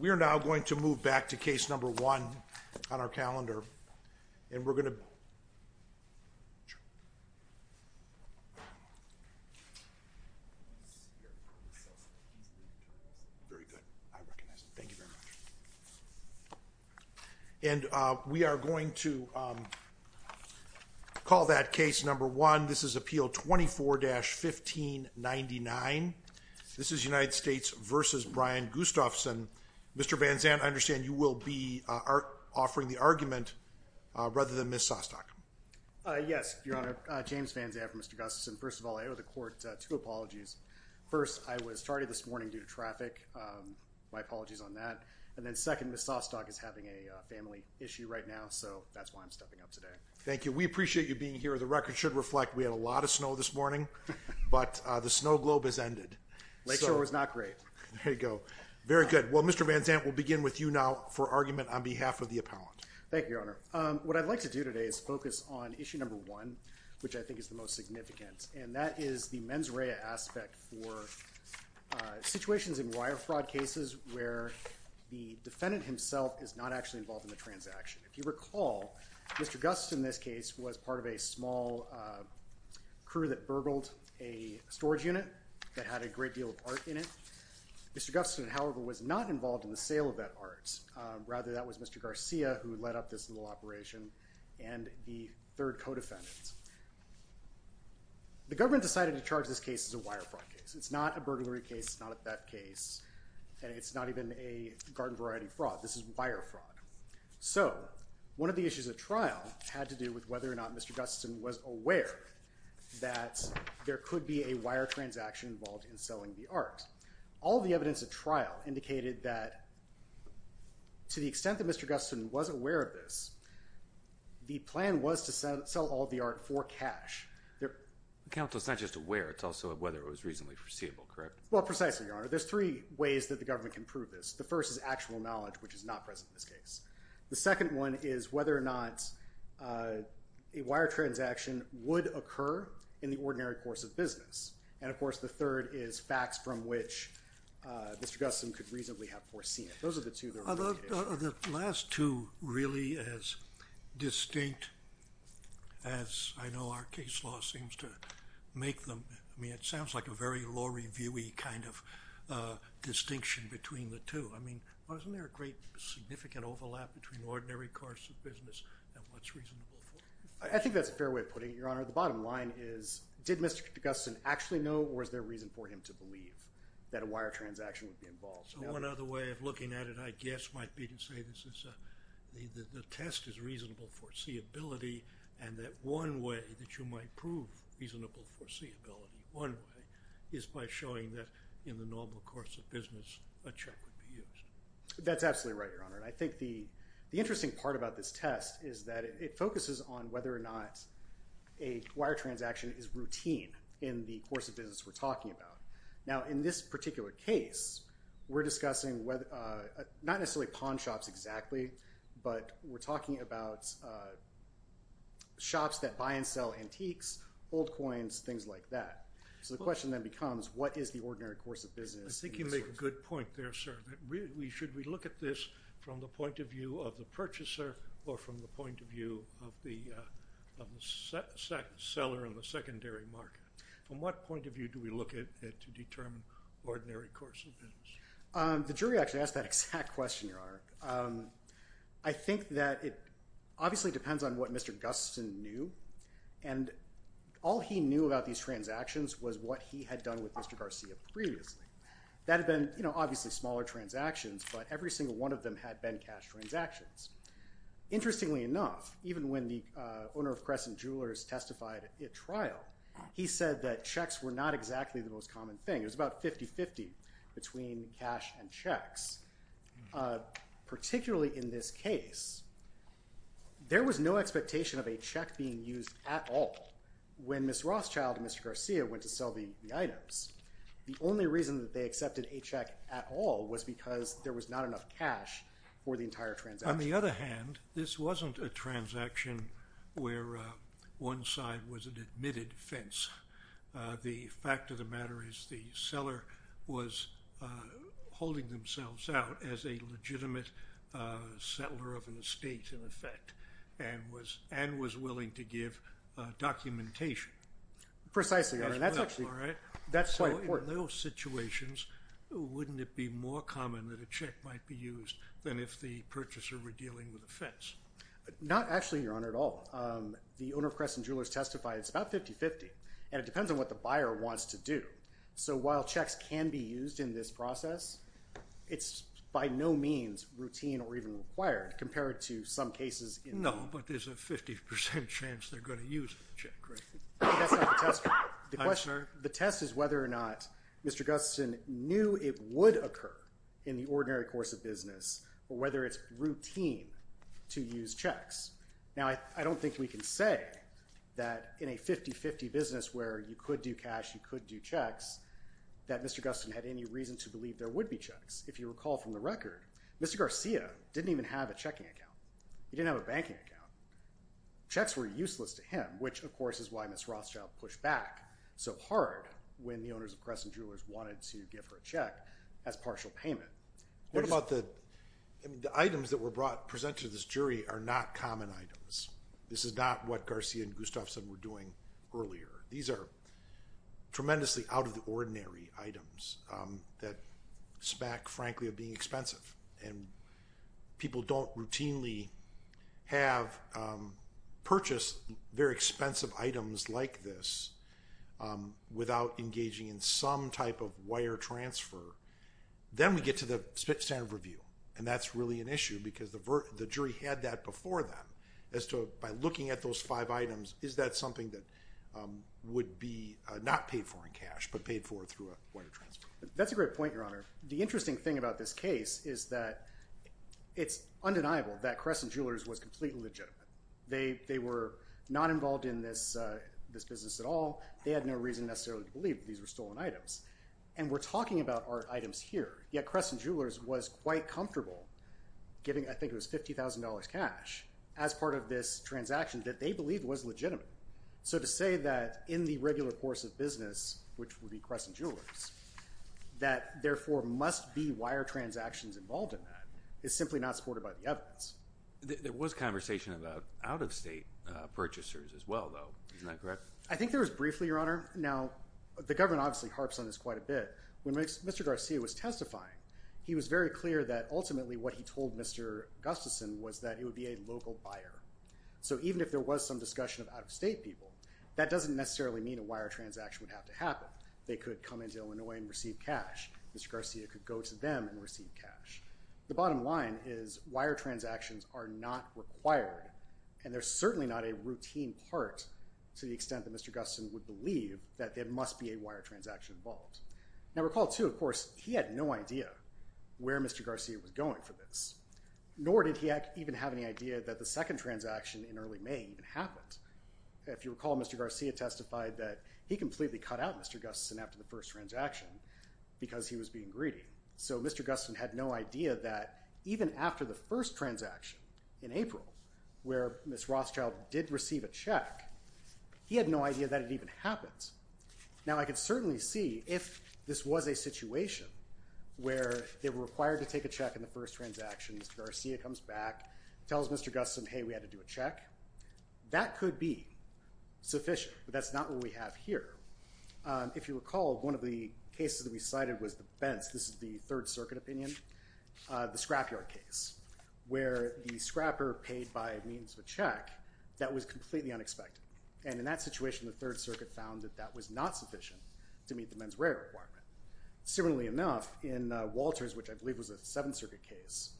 We are now going to move back to case number one on our calendar and we are going to call that case number one. This is appeal 24-1599. This is United States v. Brian Gustafson. Mr. Van Zandt, I understand you will be offering the argument rather than Ms. Sostok. Mr. Van Zandt Yes, Your Honor. James Van Zandt for Mr. Gustafson. First of all, I owe the court two apologies. First, I was tardy this morning due to traffic. My apologies on that. And then second, Ms. Sostok is having a family issue right now, so that's why I'm stepping up today. Mr. Van Zandt Thank you. We appreciate you being here. The record should reflect we had a lot of snow this morning, but the snow globe has ended. James Van Zandt Lakeshore was not great. Mr. Van Zandt There you go. Very good. Well, Mr. Van Zandt, we'll begin with you now for argument on behalf of the appellant. James Van Zandt Thank you, Your Honor. What I'd like to do today is focus on issue number one, which I think is the most significant, and that is the mens rea aspect for situations in wire fraud cases where the defendant himself is not actually involved in the transaction. If you recall, Mr. Gustafson in this case was part of a small crew that burgled a storage unit that had a great deal of art in it. Mr. Gustafson, however, was not involved in the sale of that art. Rather, that was Mr. Garcia who led up this little operation and the third co-defendant. The government decided to charge this case as a wire fraud case. It's not a burglary case. It's not a theft case, and it's not even a garden variety fraud. This is wire fraud. So one of the issues of trial had to do with whether or not Mr. Gustafson was aware that there could be a wire transaction involved in selling the art. All of the evidence at trial indicated that to the extent that Mr. Gustafson was aware of this, the plan was to sell all of the art for cash. The counsel is not just aware. It's also whether it was reasonably foreseeable, correct? Well, precisely, Your Honor. There's three ways that the government can prove this. The first is actual knowledge, which is not present in this case. The second one is whether or not a wire transaction would occur in the ordinary course of business. And, of course, the third is facts from which Mr. Gustafson could reasonably have foreseen it. Those are the two. Are the last two really as distinct as I know our case law seems to make them? I mean, it sounds like a very law review-y kind of distinction between the two. I mean, wasn't there a great significant overlap between ordinary course of business and what's reasonable for it? I think that's a fair way of putting it, Your Honor. The bottom line is did Mr. Gustafson actually know or is there reason for him to believe that a wire transaction would be involved? So one other way of looking at it, I guess, might be to say that the test is reasonable foreseeability and that one way that you might prove reasonable foreseeability one way is by showing that in the normal course of business a check would be used. That's absolutely right, Your Honor. And I think the interesting part about this test is that it focuses on whether or not a wire transaction is routine in the course of business we're talking about. Now, in this particular case, we're discussing not necessarily pawn shops exactly, but we're talking about shops that buy and sell antiques, old coins, things like that. So the question then becomes what is the ordinary course of business? I think you make a good point there, sir. Should we look at this from the point of view of the purchaser or from the point of view of the seller in the secondary market? From what point of view do we look at to determine ordinary course of business? The jury actually asked that exact question, Your Honor. I think that it obviously depends on what Mr. Gustafson knew, and all he knew about these transactions was what he had done with Mr. Garcia previously. That had been obviously smaller transactions, but every single one of them had been cash transactions. Interestingly enough, even when the owner of Crescent Jewelers testified at trial, he said that checks were not exactly the most common thing. It was about 50-50 between cash and checks. Particularly in this case, there was no expectation of a check being used at all when Ms. Rothschild and Mr. Garcia went to sell the items. The only reason that they accepted a check at all was because there was not enough cash for the entire transaction. On the other hand, this wasn't a transaction where one side was an admitted offense. The fact of the matter is the seller was holding themselves out as a legitimate settler of an estate, in effect, and was willing to give documentation. Precisely, Your Honor. That's quite important. In those situations, wouldn't it be more common that a check might be used than if the purchaser were dealing with offense? Not actually, Your Honor, at all. The owner of Crescent Jewelers testified, it's about 50-50, and it depends on what the buyer wants to do. So while checks can be used in this process, it's by no means routine or even required compared to some cases. No, but there's a 50% chance they're going to use a check, right? The test is whether or not Mr. Gustin knew it would occur in the ordinary course of business, or whether it's routine to use checks. Now, I don't think we can say that in a 50-50 business where you could do cash, you could do checks, that Mr. Gustin had any reason to believe there would be checks. If you recall from the record, Mr. Garcia didn't even have a checking account. He didn't have a banking account. Checks were useless to him, which, of course, is why Ms. Rothschild pushed back so hard when the owners of Crescent Jewelers wanted to give her a check as partial payment. The items that were presented to this jury are not common items. This is not what Garcia and Gustafson were doing earlier. These are tremendously out-of-the-ordinary items that smack, frankly, of being expensive. People don't routinely purchase very expensive items like this without engaging in some type of wire transfer. Then we get to the standard review, and that's really an issue because the jury had that before them as to, by looking at those five items, is that something that would be not paid for in cash but paid for through a wire transfer? That's a great point, Your Honor. The interesting thing about this case is that it's undeniable that Crescent Jewelers was completely legitimate. They were not involved in this business at all. They had no reason necessarily to believe that these were stolen items. We're talking about our items here, yet Crescent Jewelers was quite comfortable giving, I think it was $50,000 cash, as part of this transaction that they believed was legitimate. So to say that in the regular course of business, which would be Crescent Jewelers, that therefore must be wire transactions involved in that is simply not supported by the evidence. There was conversation about out-of-state purchasers as well, though. Isn't that correct? I think there was briefly, Your Honor. Now, the government obviously harps on this quite a bit. When Mr. Garcia was testifying, he was very clear that ultimately what he told Mr. Gustafson was that it would be a local buyer. So even if there was some discussion of out-of-state people, that doesn't necessarily mean a wire transaction would have to happen. They could come into Illinois and receive cash. Mr. Garcia could go to them and receive cash. The bottom line is wire transactions are not required, and they're certainly not a routine part to the extent that Mr. Gustafson would believe that there must be a wire transaction involved. Now, recall, too, of course, he had no idea where Mr. Garcia was going for this, nor did he even have any idea that the second transaction in early May even happened. If you recall, Mr. Garcia testified that he completely cut out Mr. Gustafson after the first transaction because he was being greedy. So Mr. Gustafson had no idea that even after the first transaction in April where Ms. Rothschild did receive a check, he had no idea that it even happened. Now, I could certainly see if this was a situation where they were required to take a check in the first transaction, Mr. Garcia comes back, tells Mr. Gustafson, hey, we had to do a check. That could be sufficient, but that's not what we have here. If you recall, one of the cases that we cited was the Bentz, this is the Third Circuit opinion, the scrapyard case, where the scrapper paid by means of a check that was completely unexpected. And in that situation, the Third Circuit found that that was not sufficient to meet the mens rea requirement. Similarly enough, in Walters, which I believe was a Seventh Circuit case,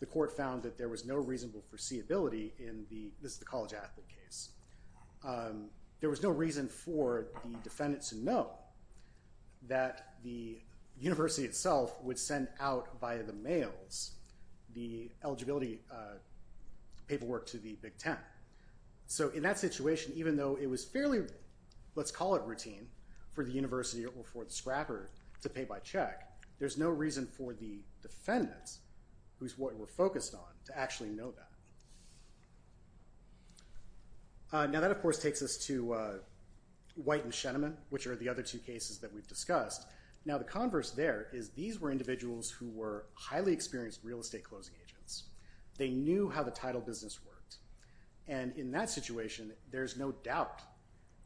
the court found that there was no reasonable foreseeability in the, this is the college athlete case, there was no reason for the defendant to know that the university itself would send out via the mails the eligibility paperwork to the Big Ten. So in that situation, even though it was fairly, let's call it routine, for the university or for the scrapper to pay by check, there's no reason for the defendant, who's what we're focused on, to actually know that. Now that of course takes us to White and Shenneman, which are the other two cases that we've discussed. Now the converse there is these were individuals who were highly experienced real estate closing agents. They knew how the title business worked. And in that situation, there's no doubt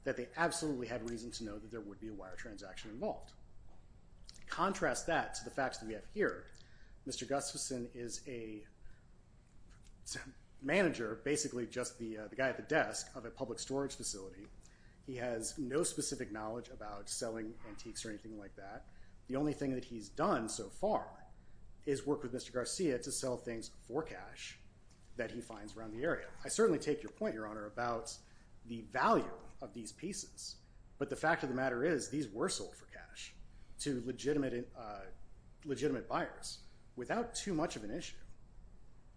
that they absolutely had reason to know that there would be a wire transaction involved. Contrast that to the facts that we have here. Mr. Gustafson is a manager, basically just the guy at the desk of a public storage facility. He has no specific knowledge about selling antiques or anything like that. The only thing that he's done so far is work with Mr. Garcia to sell things for cash that he finds around the area. I certainly take your point, Your Honor, about the value of these pieces. But the fact of the matter is these were sold for cash to legitimate buyers without too much of an issue.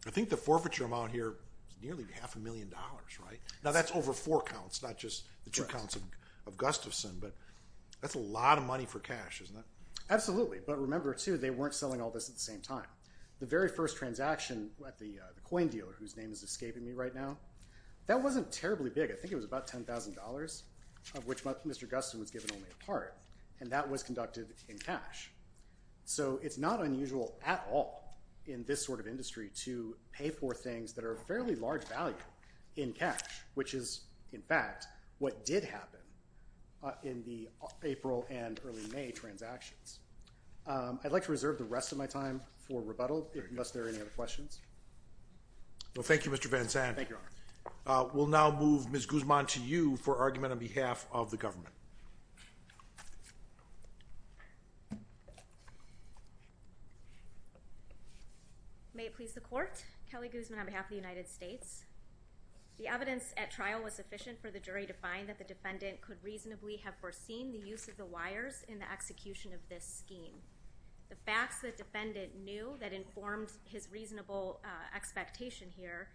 I think the forfeiture amount here is nearly half a million dollars, right? Now that's over four counts, not just the two counts of Gustafson. But that's a lot of money for cash, isn't it? Absolutely. But remember, too, they weren't selling all this at the same time. The very first transaction at the coin dealer, whose name is escaping me right now, that wasn't terribly big. I think it was about $10,000, of which Mr. Gustafson was given only a part. And that was conducted in cash. So it's not unusual at all in this sort of industry to pay for things that are of fairly large value in cash, which is, in fact, what did happen in the April and early May transactions. I'd like to reserve the rest of my time for rebuttal unless there are any other questions. Well, thank you, Mr. Van Zandt. Thank you, Your Honor. We'll now move Ms. Guzman to you for argument on behalf of the government. May it please the Court. Kelly Guzman on behalf of the United States. The evidence at trial was sufficient for the jury to find that the defendant could reasonably have foreseen the use of the wires in the execution of this scheme. The facts the defendant knew that informed his reasonable expectation here,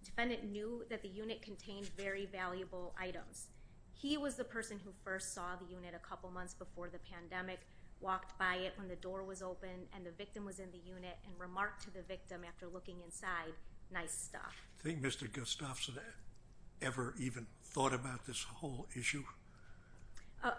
the defendant knew that the unit contained very valuable items. He was the person who first saw the unit a couple months before the pandemic, walked by it when the door was open, and the victim was in the unit, and remarked to the victim after looking inside, nice stuff. Do you think Mr. Gustafson ever even thought about this whole issue?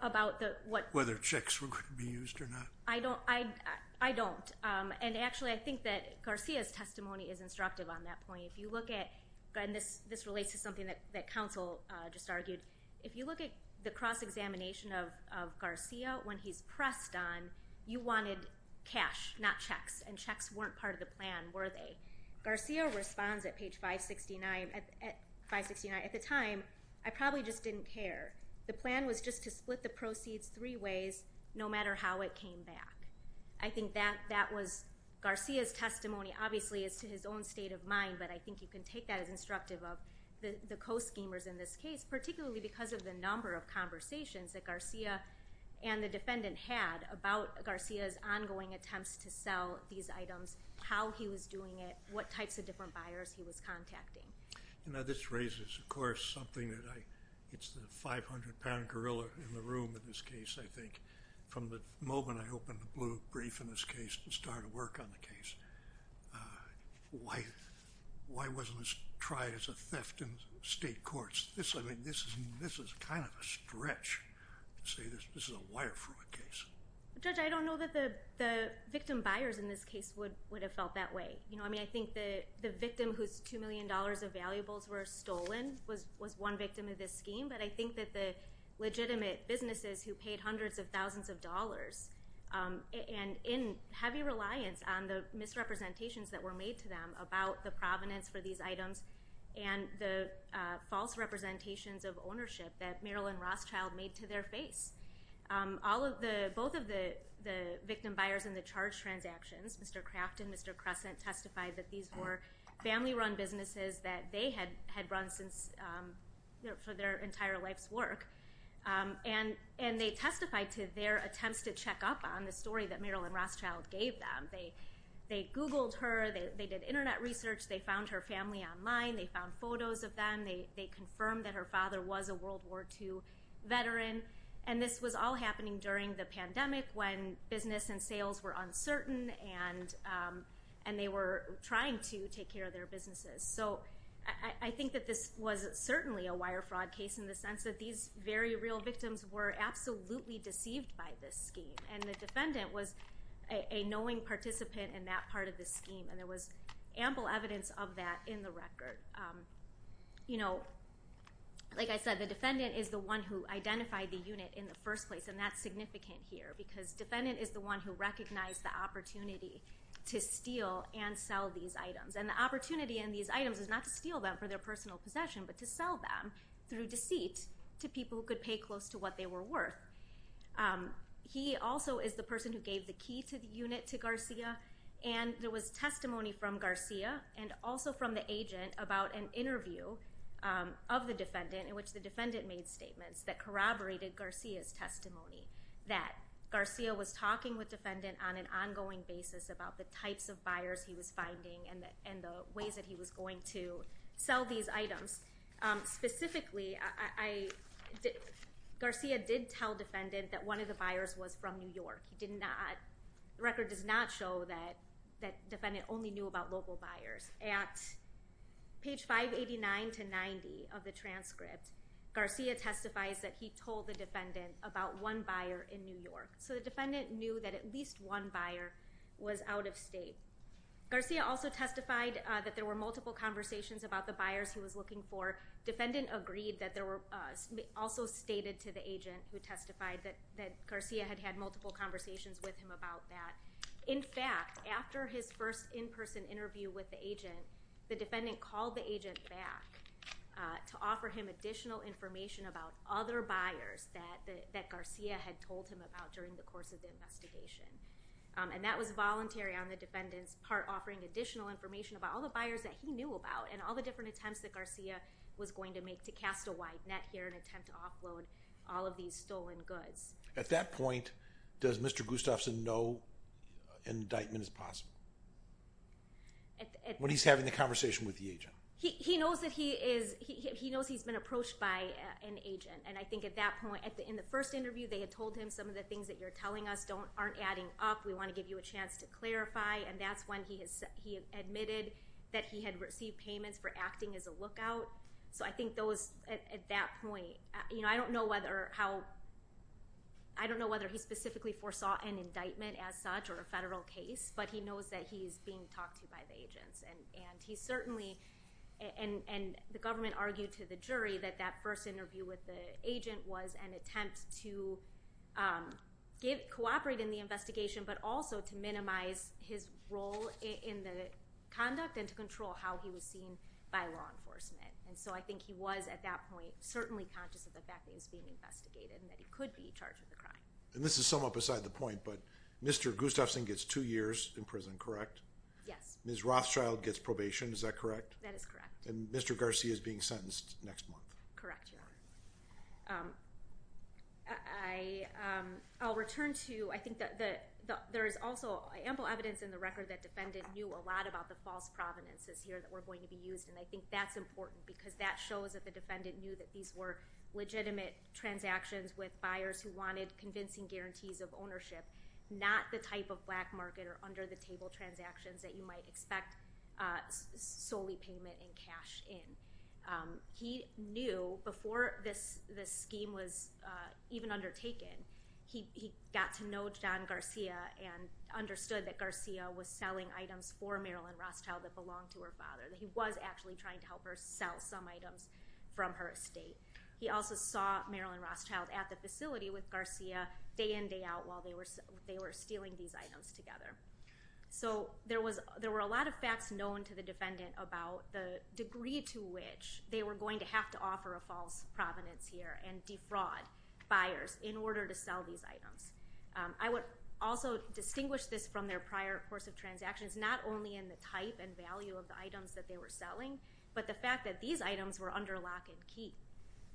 About what? Whether checks were going to be used or not. I don't. And actually, I think that Garcia's testimony is instructive on that point. If you look at, and this relates to something that counsel just argued, if you look at the cross-examination of Garcia when he's pressed on, you wanted cash, not checks. And checks weren't part of the plan, were they? Garcia responds at page 569, at the time, I probably just didn't care. The plan was just to split the proceeds three ways, no matter how it came back. I think that was Garcia's testimony, obviously, as to his own state of mind, but I think you can take that as instructive of the co-schemers in this case, particularly because of the number of conversations that Garcia and the defendant had about Garcia's ongoing attempts to sell these items, how he was doing it, what types of different buyers he was contacting. Now, this raises, of course, something that I, it's the 500-pound gorilla in the room in this case, I think. From the moment I opened the blue brief in this case and started work on the case, why wasn't this tried as a theft in state courts? This is kind of a stretch to say this is a wire fraud case. Judge, I don't know that the victim buyers in this case would have felt that way. I mean, I think the victim whose $2 million of valuables were stolen was one victim of this scheme, but I think that the legitimate businesses who paid hundreds of thousands of dollars and in heavy reliance on the misrepresentations that were made to them about the provenance for these items and the false representations of ownership that Marilyn Rothschild made to their face, both of the victim buyers in the charge transactions, Mr. Craft and Mr. Crescent, testified that these were family-run businesses that they had run for their entire life's work. And they testified to their attempts to check up on the story that Marilyn Rothschild gave them. They Googled her. They did Internet research. They found her family online. They found photos of them. They confirmed that her father was a World War II veteran. And this was all happening during the pandemic when business and sales were uncertain and they were trying to take care of their businesses. So I think that this was certainly a wire fraud case in the sense that these very real victims were absolutely deceived by this scheme. And the defendant was a knowing participant in that part of the scheme, and there was ample evidence of that in the record. You know, like I said, the defendant is the one who identified the unit in the first place, and that's significant here because defendant is the one who recognized the opportunity to steal and sell these items. And the opportunity in these items is not to steal them for their personal possession but to sell them through deceit to people who could pay close to what they were worth. He also is the person who gave the key to the unit to Garcia, and there was testimony from Garcia and also from the agent about an interview of the defendant in which the defendant made statements that corroborated Garcia's testimony, that Garcia was talking with defendant on an ongoing basis about the types of buyers he was finding and the ways that he was going to sell these items. Specifically, Garcia did tell defendant that one of the buyers was from New York. The record does not show that defendant only knew about local buyers. At page 589-90 of the transcript, Garcia testifies that he told the defendant about one buyer in New York. So the defendant knew that at least one buyer was out of state. Garcia also testified that there were multiple conversations about the buyers he was looking for. Defendant agreed that there were also stated to the agent who testified that Garcia had had multiple conversations with him about that. In fact, after his first in-person interview with the agent, the defendant called the agent back to offer him additional information about other buyers that Garcia had told him about during the course of the investigation, and that was voluntary on the defendant's part, offering additional information about all the buyers that he knew about and all the different attempts that Garcia was going to make to cast a wide net here and attempt to offload all of these stolen goods. At that point, does Mr. Gustafson know indictment is possible? When he's having the conversation with the agent? He knows that he's been approached by an agent, and I think at that point, in the first interview, they had told him some of the things that you're telling us aren't adding up. We want to give you a chance to clarify, and that's when he admitted that he had received payments for acting as a lookout. So I think at that point, I don't know whether he specifically foresaw an indictment as such or a federal case, but he knows that he's being talked to by the agents, and the government argued to the jury that that first interview with the agent was an attempt to cooperate in the investigation but also to minimize his role in the conduct and to control how he was seen by law enforcement. And so I think he was, at that point, certainly conscious of the fact that he was being investigated and that he could be charged with a crime. And this is somewhat beside the point, but Mr. Gustafson gets two years in prison, correct? Yes. Ms. Rothschild gets probation, is that correct? That is correct. And Mr. Garcia is being sentenced next month. Correct, yeah. I'll return to, I think that there is also ample evidence in the record that defendant knew a lot about the false provenances here that were going to be used, and I think that's important because that shows that the defendant knew that these were legitimate transactions with buyers who wanted convincing guarantees of ownership, not the type of black market or under-the-table transactions that you might expect solely payment and cash in. He knew before this scheme was even undertaken, he got to know John Garcia and understood that Garcia was selling items for Marilyn Rothschild that belonged to her father, that he was actually trying to help her sell some items from her estate. He also saw Marilyn Rothschild at the facility with Garcia day in, day out while they were stealing these items together. So there were a lot of facts known to the defendant about the degree to which they were going to have to offer a false provenance here and defraud buyers in order to sell these items. I would also distinguish this from their prior course of transactions, not only in the type and value of the items that they were selling, but the fact that these items were under lock and key,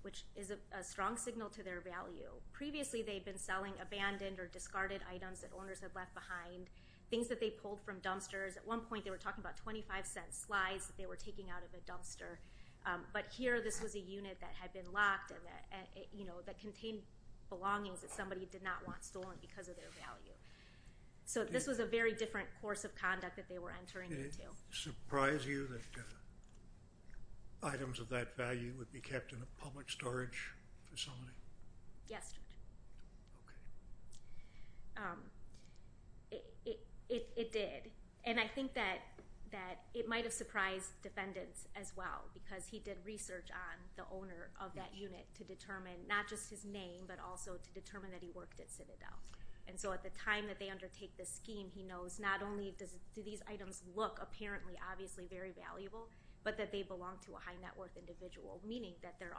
which is a strong signal to their value. Previously they had been selling abandoned or discarded items that owners had left behind, things that they pulled from dumpsters. At one point they were talking about $0.25 slides that they were taking out of a dumpster, but here this was a unit that had been locked and, you know, that contained belongings that somebody did not want stolen because of their value. So this was a very different course of conduct that they were entering into. Did it surprise you that items of that value would be kept in a public storage facility? Yes, Judge. Okay. It did. And I think that it might have surprised defendants as well because he did research on the owner of that unit to determine not just his name, but also to determine that he worked at Citadel. And so at the time that they undertake this scheme, he knows not only do these items look apparently obviously very valuable, but that they belong to a high net worth individual, meaning that they are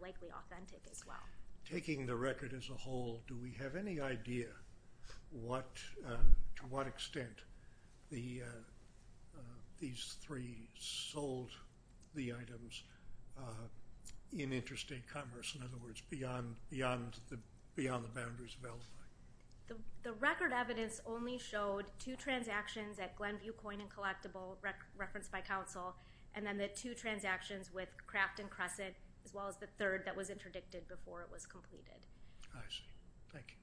likely authentic as well. Taking the record as a whole, do we have any idea to what extent these three sold the items in interstate commerce? In other words, beyond the boundaries of LFI? The record evidence only showed two transactions at Glenview Coin and Collectible referenced by counsel and then the two transactions with Kraft and Crescent as well as the third that was interdicted before it was completed. I see. Thank you.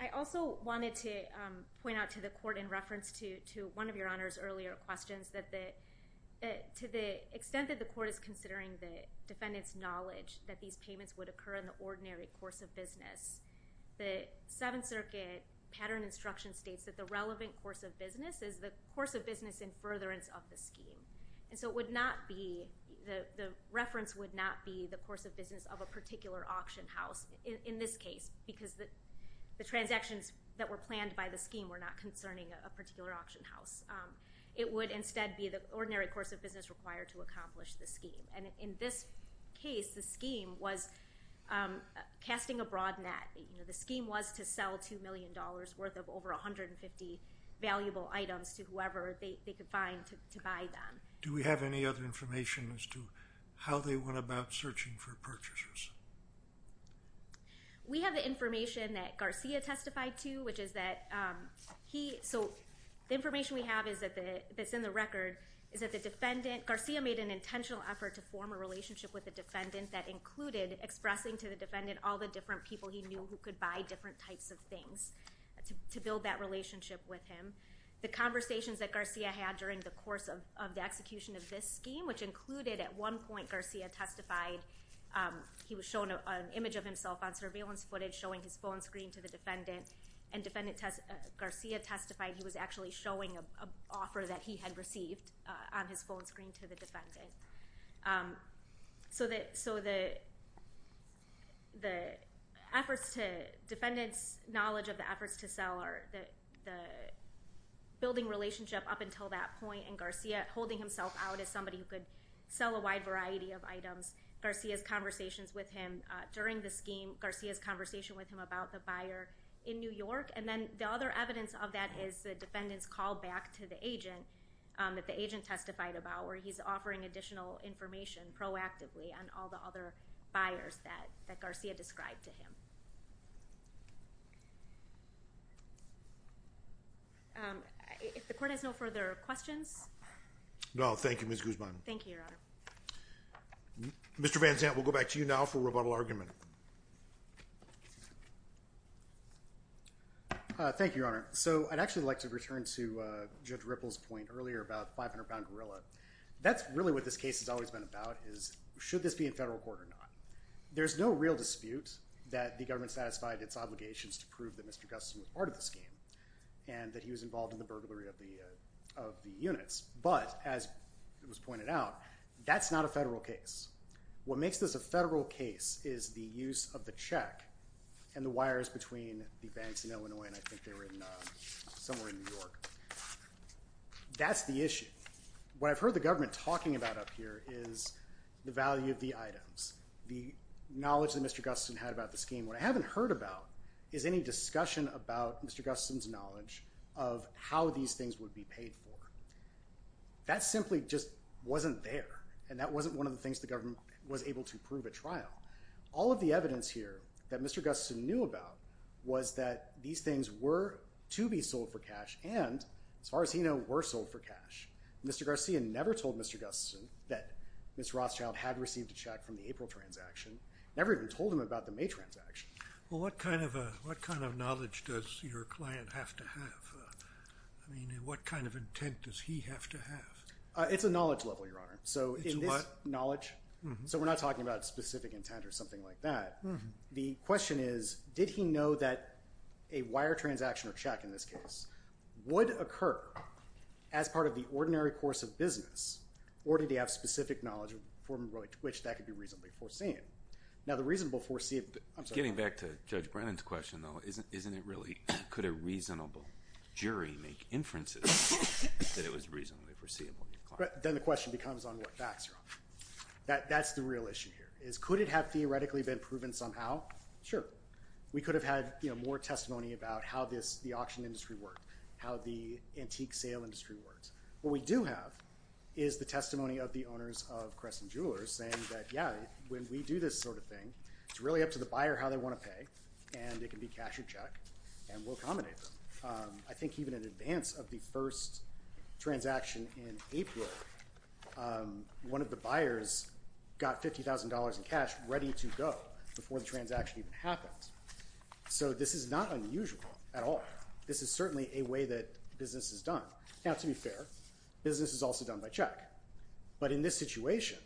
I also wanted to point out to the court in reference to one of your Honor's earlier questions that to the extent that the court is considering the defendant's knowledge that these payments would occur in the ordinary course of business, the Seventh Circuit pattern instruction states that the relevant course of business is the course of business in furtherance of the scheme. And so the reference would not be the course of business of a particular auction house in this case because the transactions that were planned by the scheme were not concerning a particular auction house. It would instead be the ordinary course of business required to accomplish the scheme. And in this case, the scheme was casting a broad net. The scheme was to sell $2 million worth of over 150 valuable items to whoever they could find to buy them. Do we have any other information as to how they went about searching for purchasers? We have the information that Garcia testified to, which is that he— so the information we have that's in the record is that the defendant— Garcia made an intentional effort to form a relationship with the defendant that included expressing to the defendant all the different people he knew who could buy different types of things to build that relationship with him. The conversations that Garcia had during the course of the execution of this scheme, which included at one point Garcia testified, he was shown an image of himself on surveillance footage showing his phone screen to the defendant, and defendant Garcia testified he was actually showing an offer that he had received on his phone screen to the defendant. So the efforts to—defendant's knowledge of the efforts to sell or the building relationship up until that point and Garcia holding himself out as somebody who could sell a wide variety of items, Garcia's conversations with him during the scheme, Garcia's conversation with him about the buyer in New York, and then the other evidence of that is the defendant's call back to the agent that the agent testified about where he's offering additional information proactively on all the other buyers that Garcia described to him. If the court has no further questions. No, thank you, Ms. Guzman. Thank you, Your Honor. Mr. Van Zandt, we'll go back to you now for rebuttal argument. Thank you, Your Honor. So I'd actually like to return to Judge Ripple's point earlier about the 500-pound gorilla. That's really what this case has always been about is should this be in federal court or not. There's no real dispute that the government satisfied its obligations to prove that Mr. Gustin was part of the scheme and that he was involved in the burglary of the units, but as it was pointed out, that's not a federal case. What makes this a federal case is the use of the check and the wires between the banks in Illinois, and I think they were somewhere in New York. That's the issue. What I've heard the government talking about up here is the value of the items, the knowledge that Mr. Gustin had about the scheme. What I haven't heard about is any discussion about Mr. Gustin's knowledge of how these things would be paid for. That simply just wasn't there, and that wasn't one of the things the government was able to prove at trial. All of the evidence here that Mr. Gustin knew about was that these things were to be sold for cash and, as far as he knew, were sold for cash. Mr. Garcia never told Mr. Gustin that Ms. Rothschild had received a check from the April transaction, never even told him about the May transaction. Well, what kind of knowledge does your client have to have? I mean, what kind of intent does he have to have? It's a knowledge level, Your Honor. It's what? Knowledge? So we're not talking about specific intent or something like that. The question is, did he know that a wire transaction or check, in this case, would occur as part of the ordinary course of business, or did he have specific knowledge for which that could be reasonably foreseen? Now, the reasonable foreseeable— Getting back to Judge Brennan's question, though, isn't it really—could a reasonable jury make inferences that it was reasonably foreseeable? Then the question becomes on what facts, Your Honor. That's the real issue here, is could it have theoretically been proven somehow? Sure. We could have had more testimony about how the auction industry worked, how the antique sale industry worked. What we do have is the testimony of the owners of Creston Jewelers saying that, yeah, when we do this sort of thing, it's really up to the buyer how they want to pay, and it can be cash or check, and we'll accommodate them. I think even in advance of the first transaction in April, one of the buyers got $50,000 in cash ready to go before the transaction even happened. So this is not unusual at all. This is certainly a way that business is done. Now, to be fair, business is also done by check, but in this situation,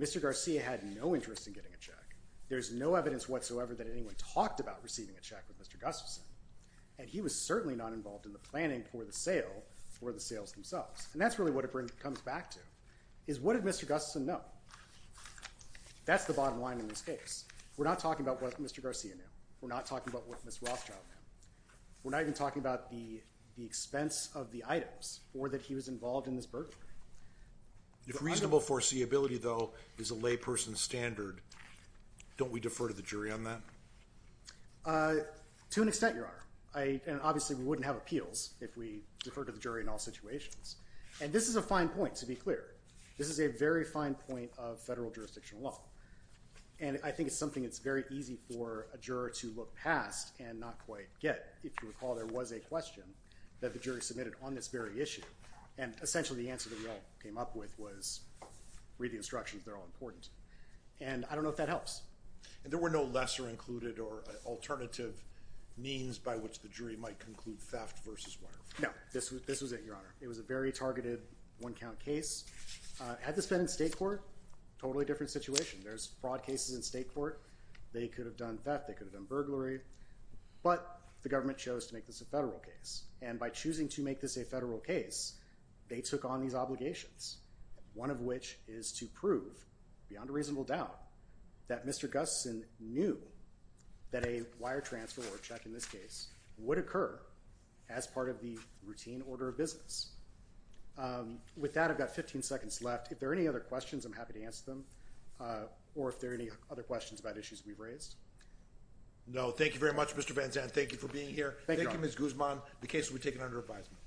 Mr. Garcia had no interest in getting a check. There's no evidence whatsoever that anyone talked about receiving a check with Mr. Gustafson, and he was certainly not involved in the planning for the sale or the sales themselves. And that's really what it comes back to, is what did Mr. Gustafson know? That's the bottom line in this case. We're not talking about what Mr. Garcia knew. We're not talking about what Ms. Rothschild knew. We're not even talking about the expense of the items or that he was involved in this burglary. If reasonable foreseeability, though, is a layperson's standard, don't we defer to the jury on that? To an extent, Your Honor. And obviously we wouldn't have appeals if we deferred to the jury in all situations. And this is a fine point, to be clear. This is a very fine point of federal jurisdictional law, and I think it's something that's very easy for a juror to look past and not quite get. If you recall, there was a question that the jury submitted on this very issue, and essentially the answer that we all came up with was read the instructions. They're all important. And I don't know if that helps. And there were no lesser included or alternative means by which the jury might conclude theft versus wire fraud? No, this was it, Your Honor. It was a very targeted one-count case. Had this been in state court, totally different situation. There's fraud cases in state court. They could have done theft. They could have done burglary. But the government chose to make this a federal case, and by choosing to make this a federal case, they took on these obligations, one of which is to prove, beyond a reasonable doubt, that Mr. Gustson knew that a wire transfer or a check in this case would occur as part of the routine order of business. With that, I've got 15 seconds left. If there are any other questions, I'm happy to answer them, or if there are any other questions about issues we've raised. No. Thank you very much, Mr. Van Zandt. Thank you for being here. Thank you, Your Honor. Thank you, Ms. Guzman. The case will be taken under advisement.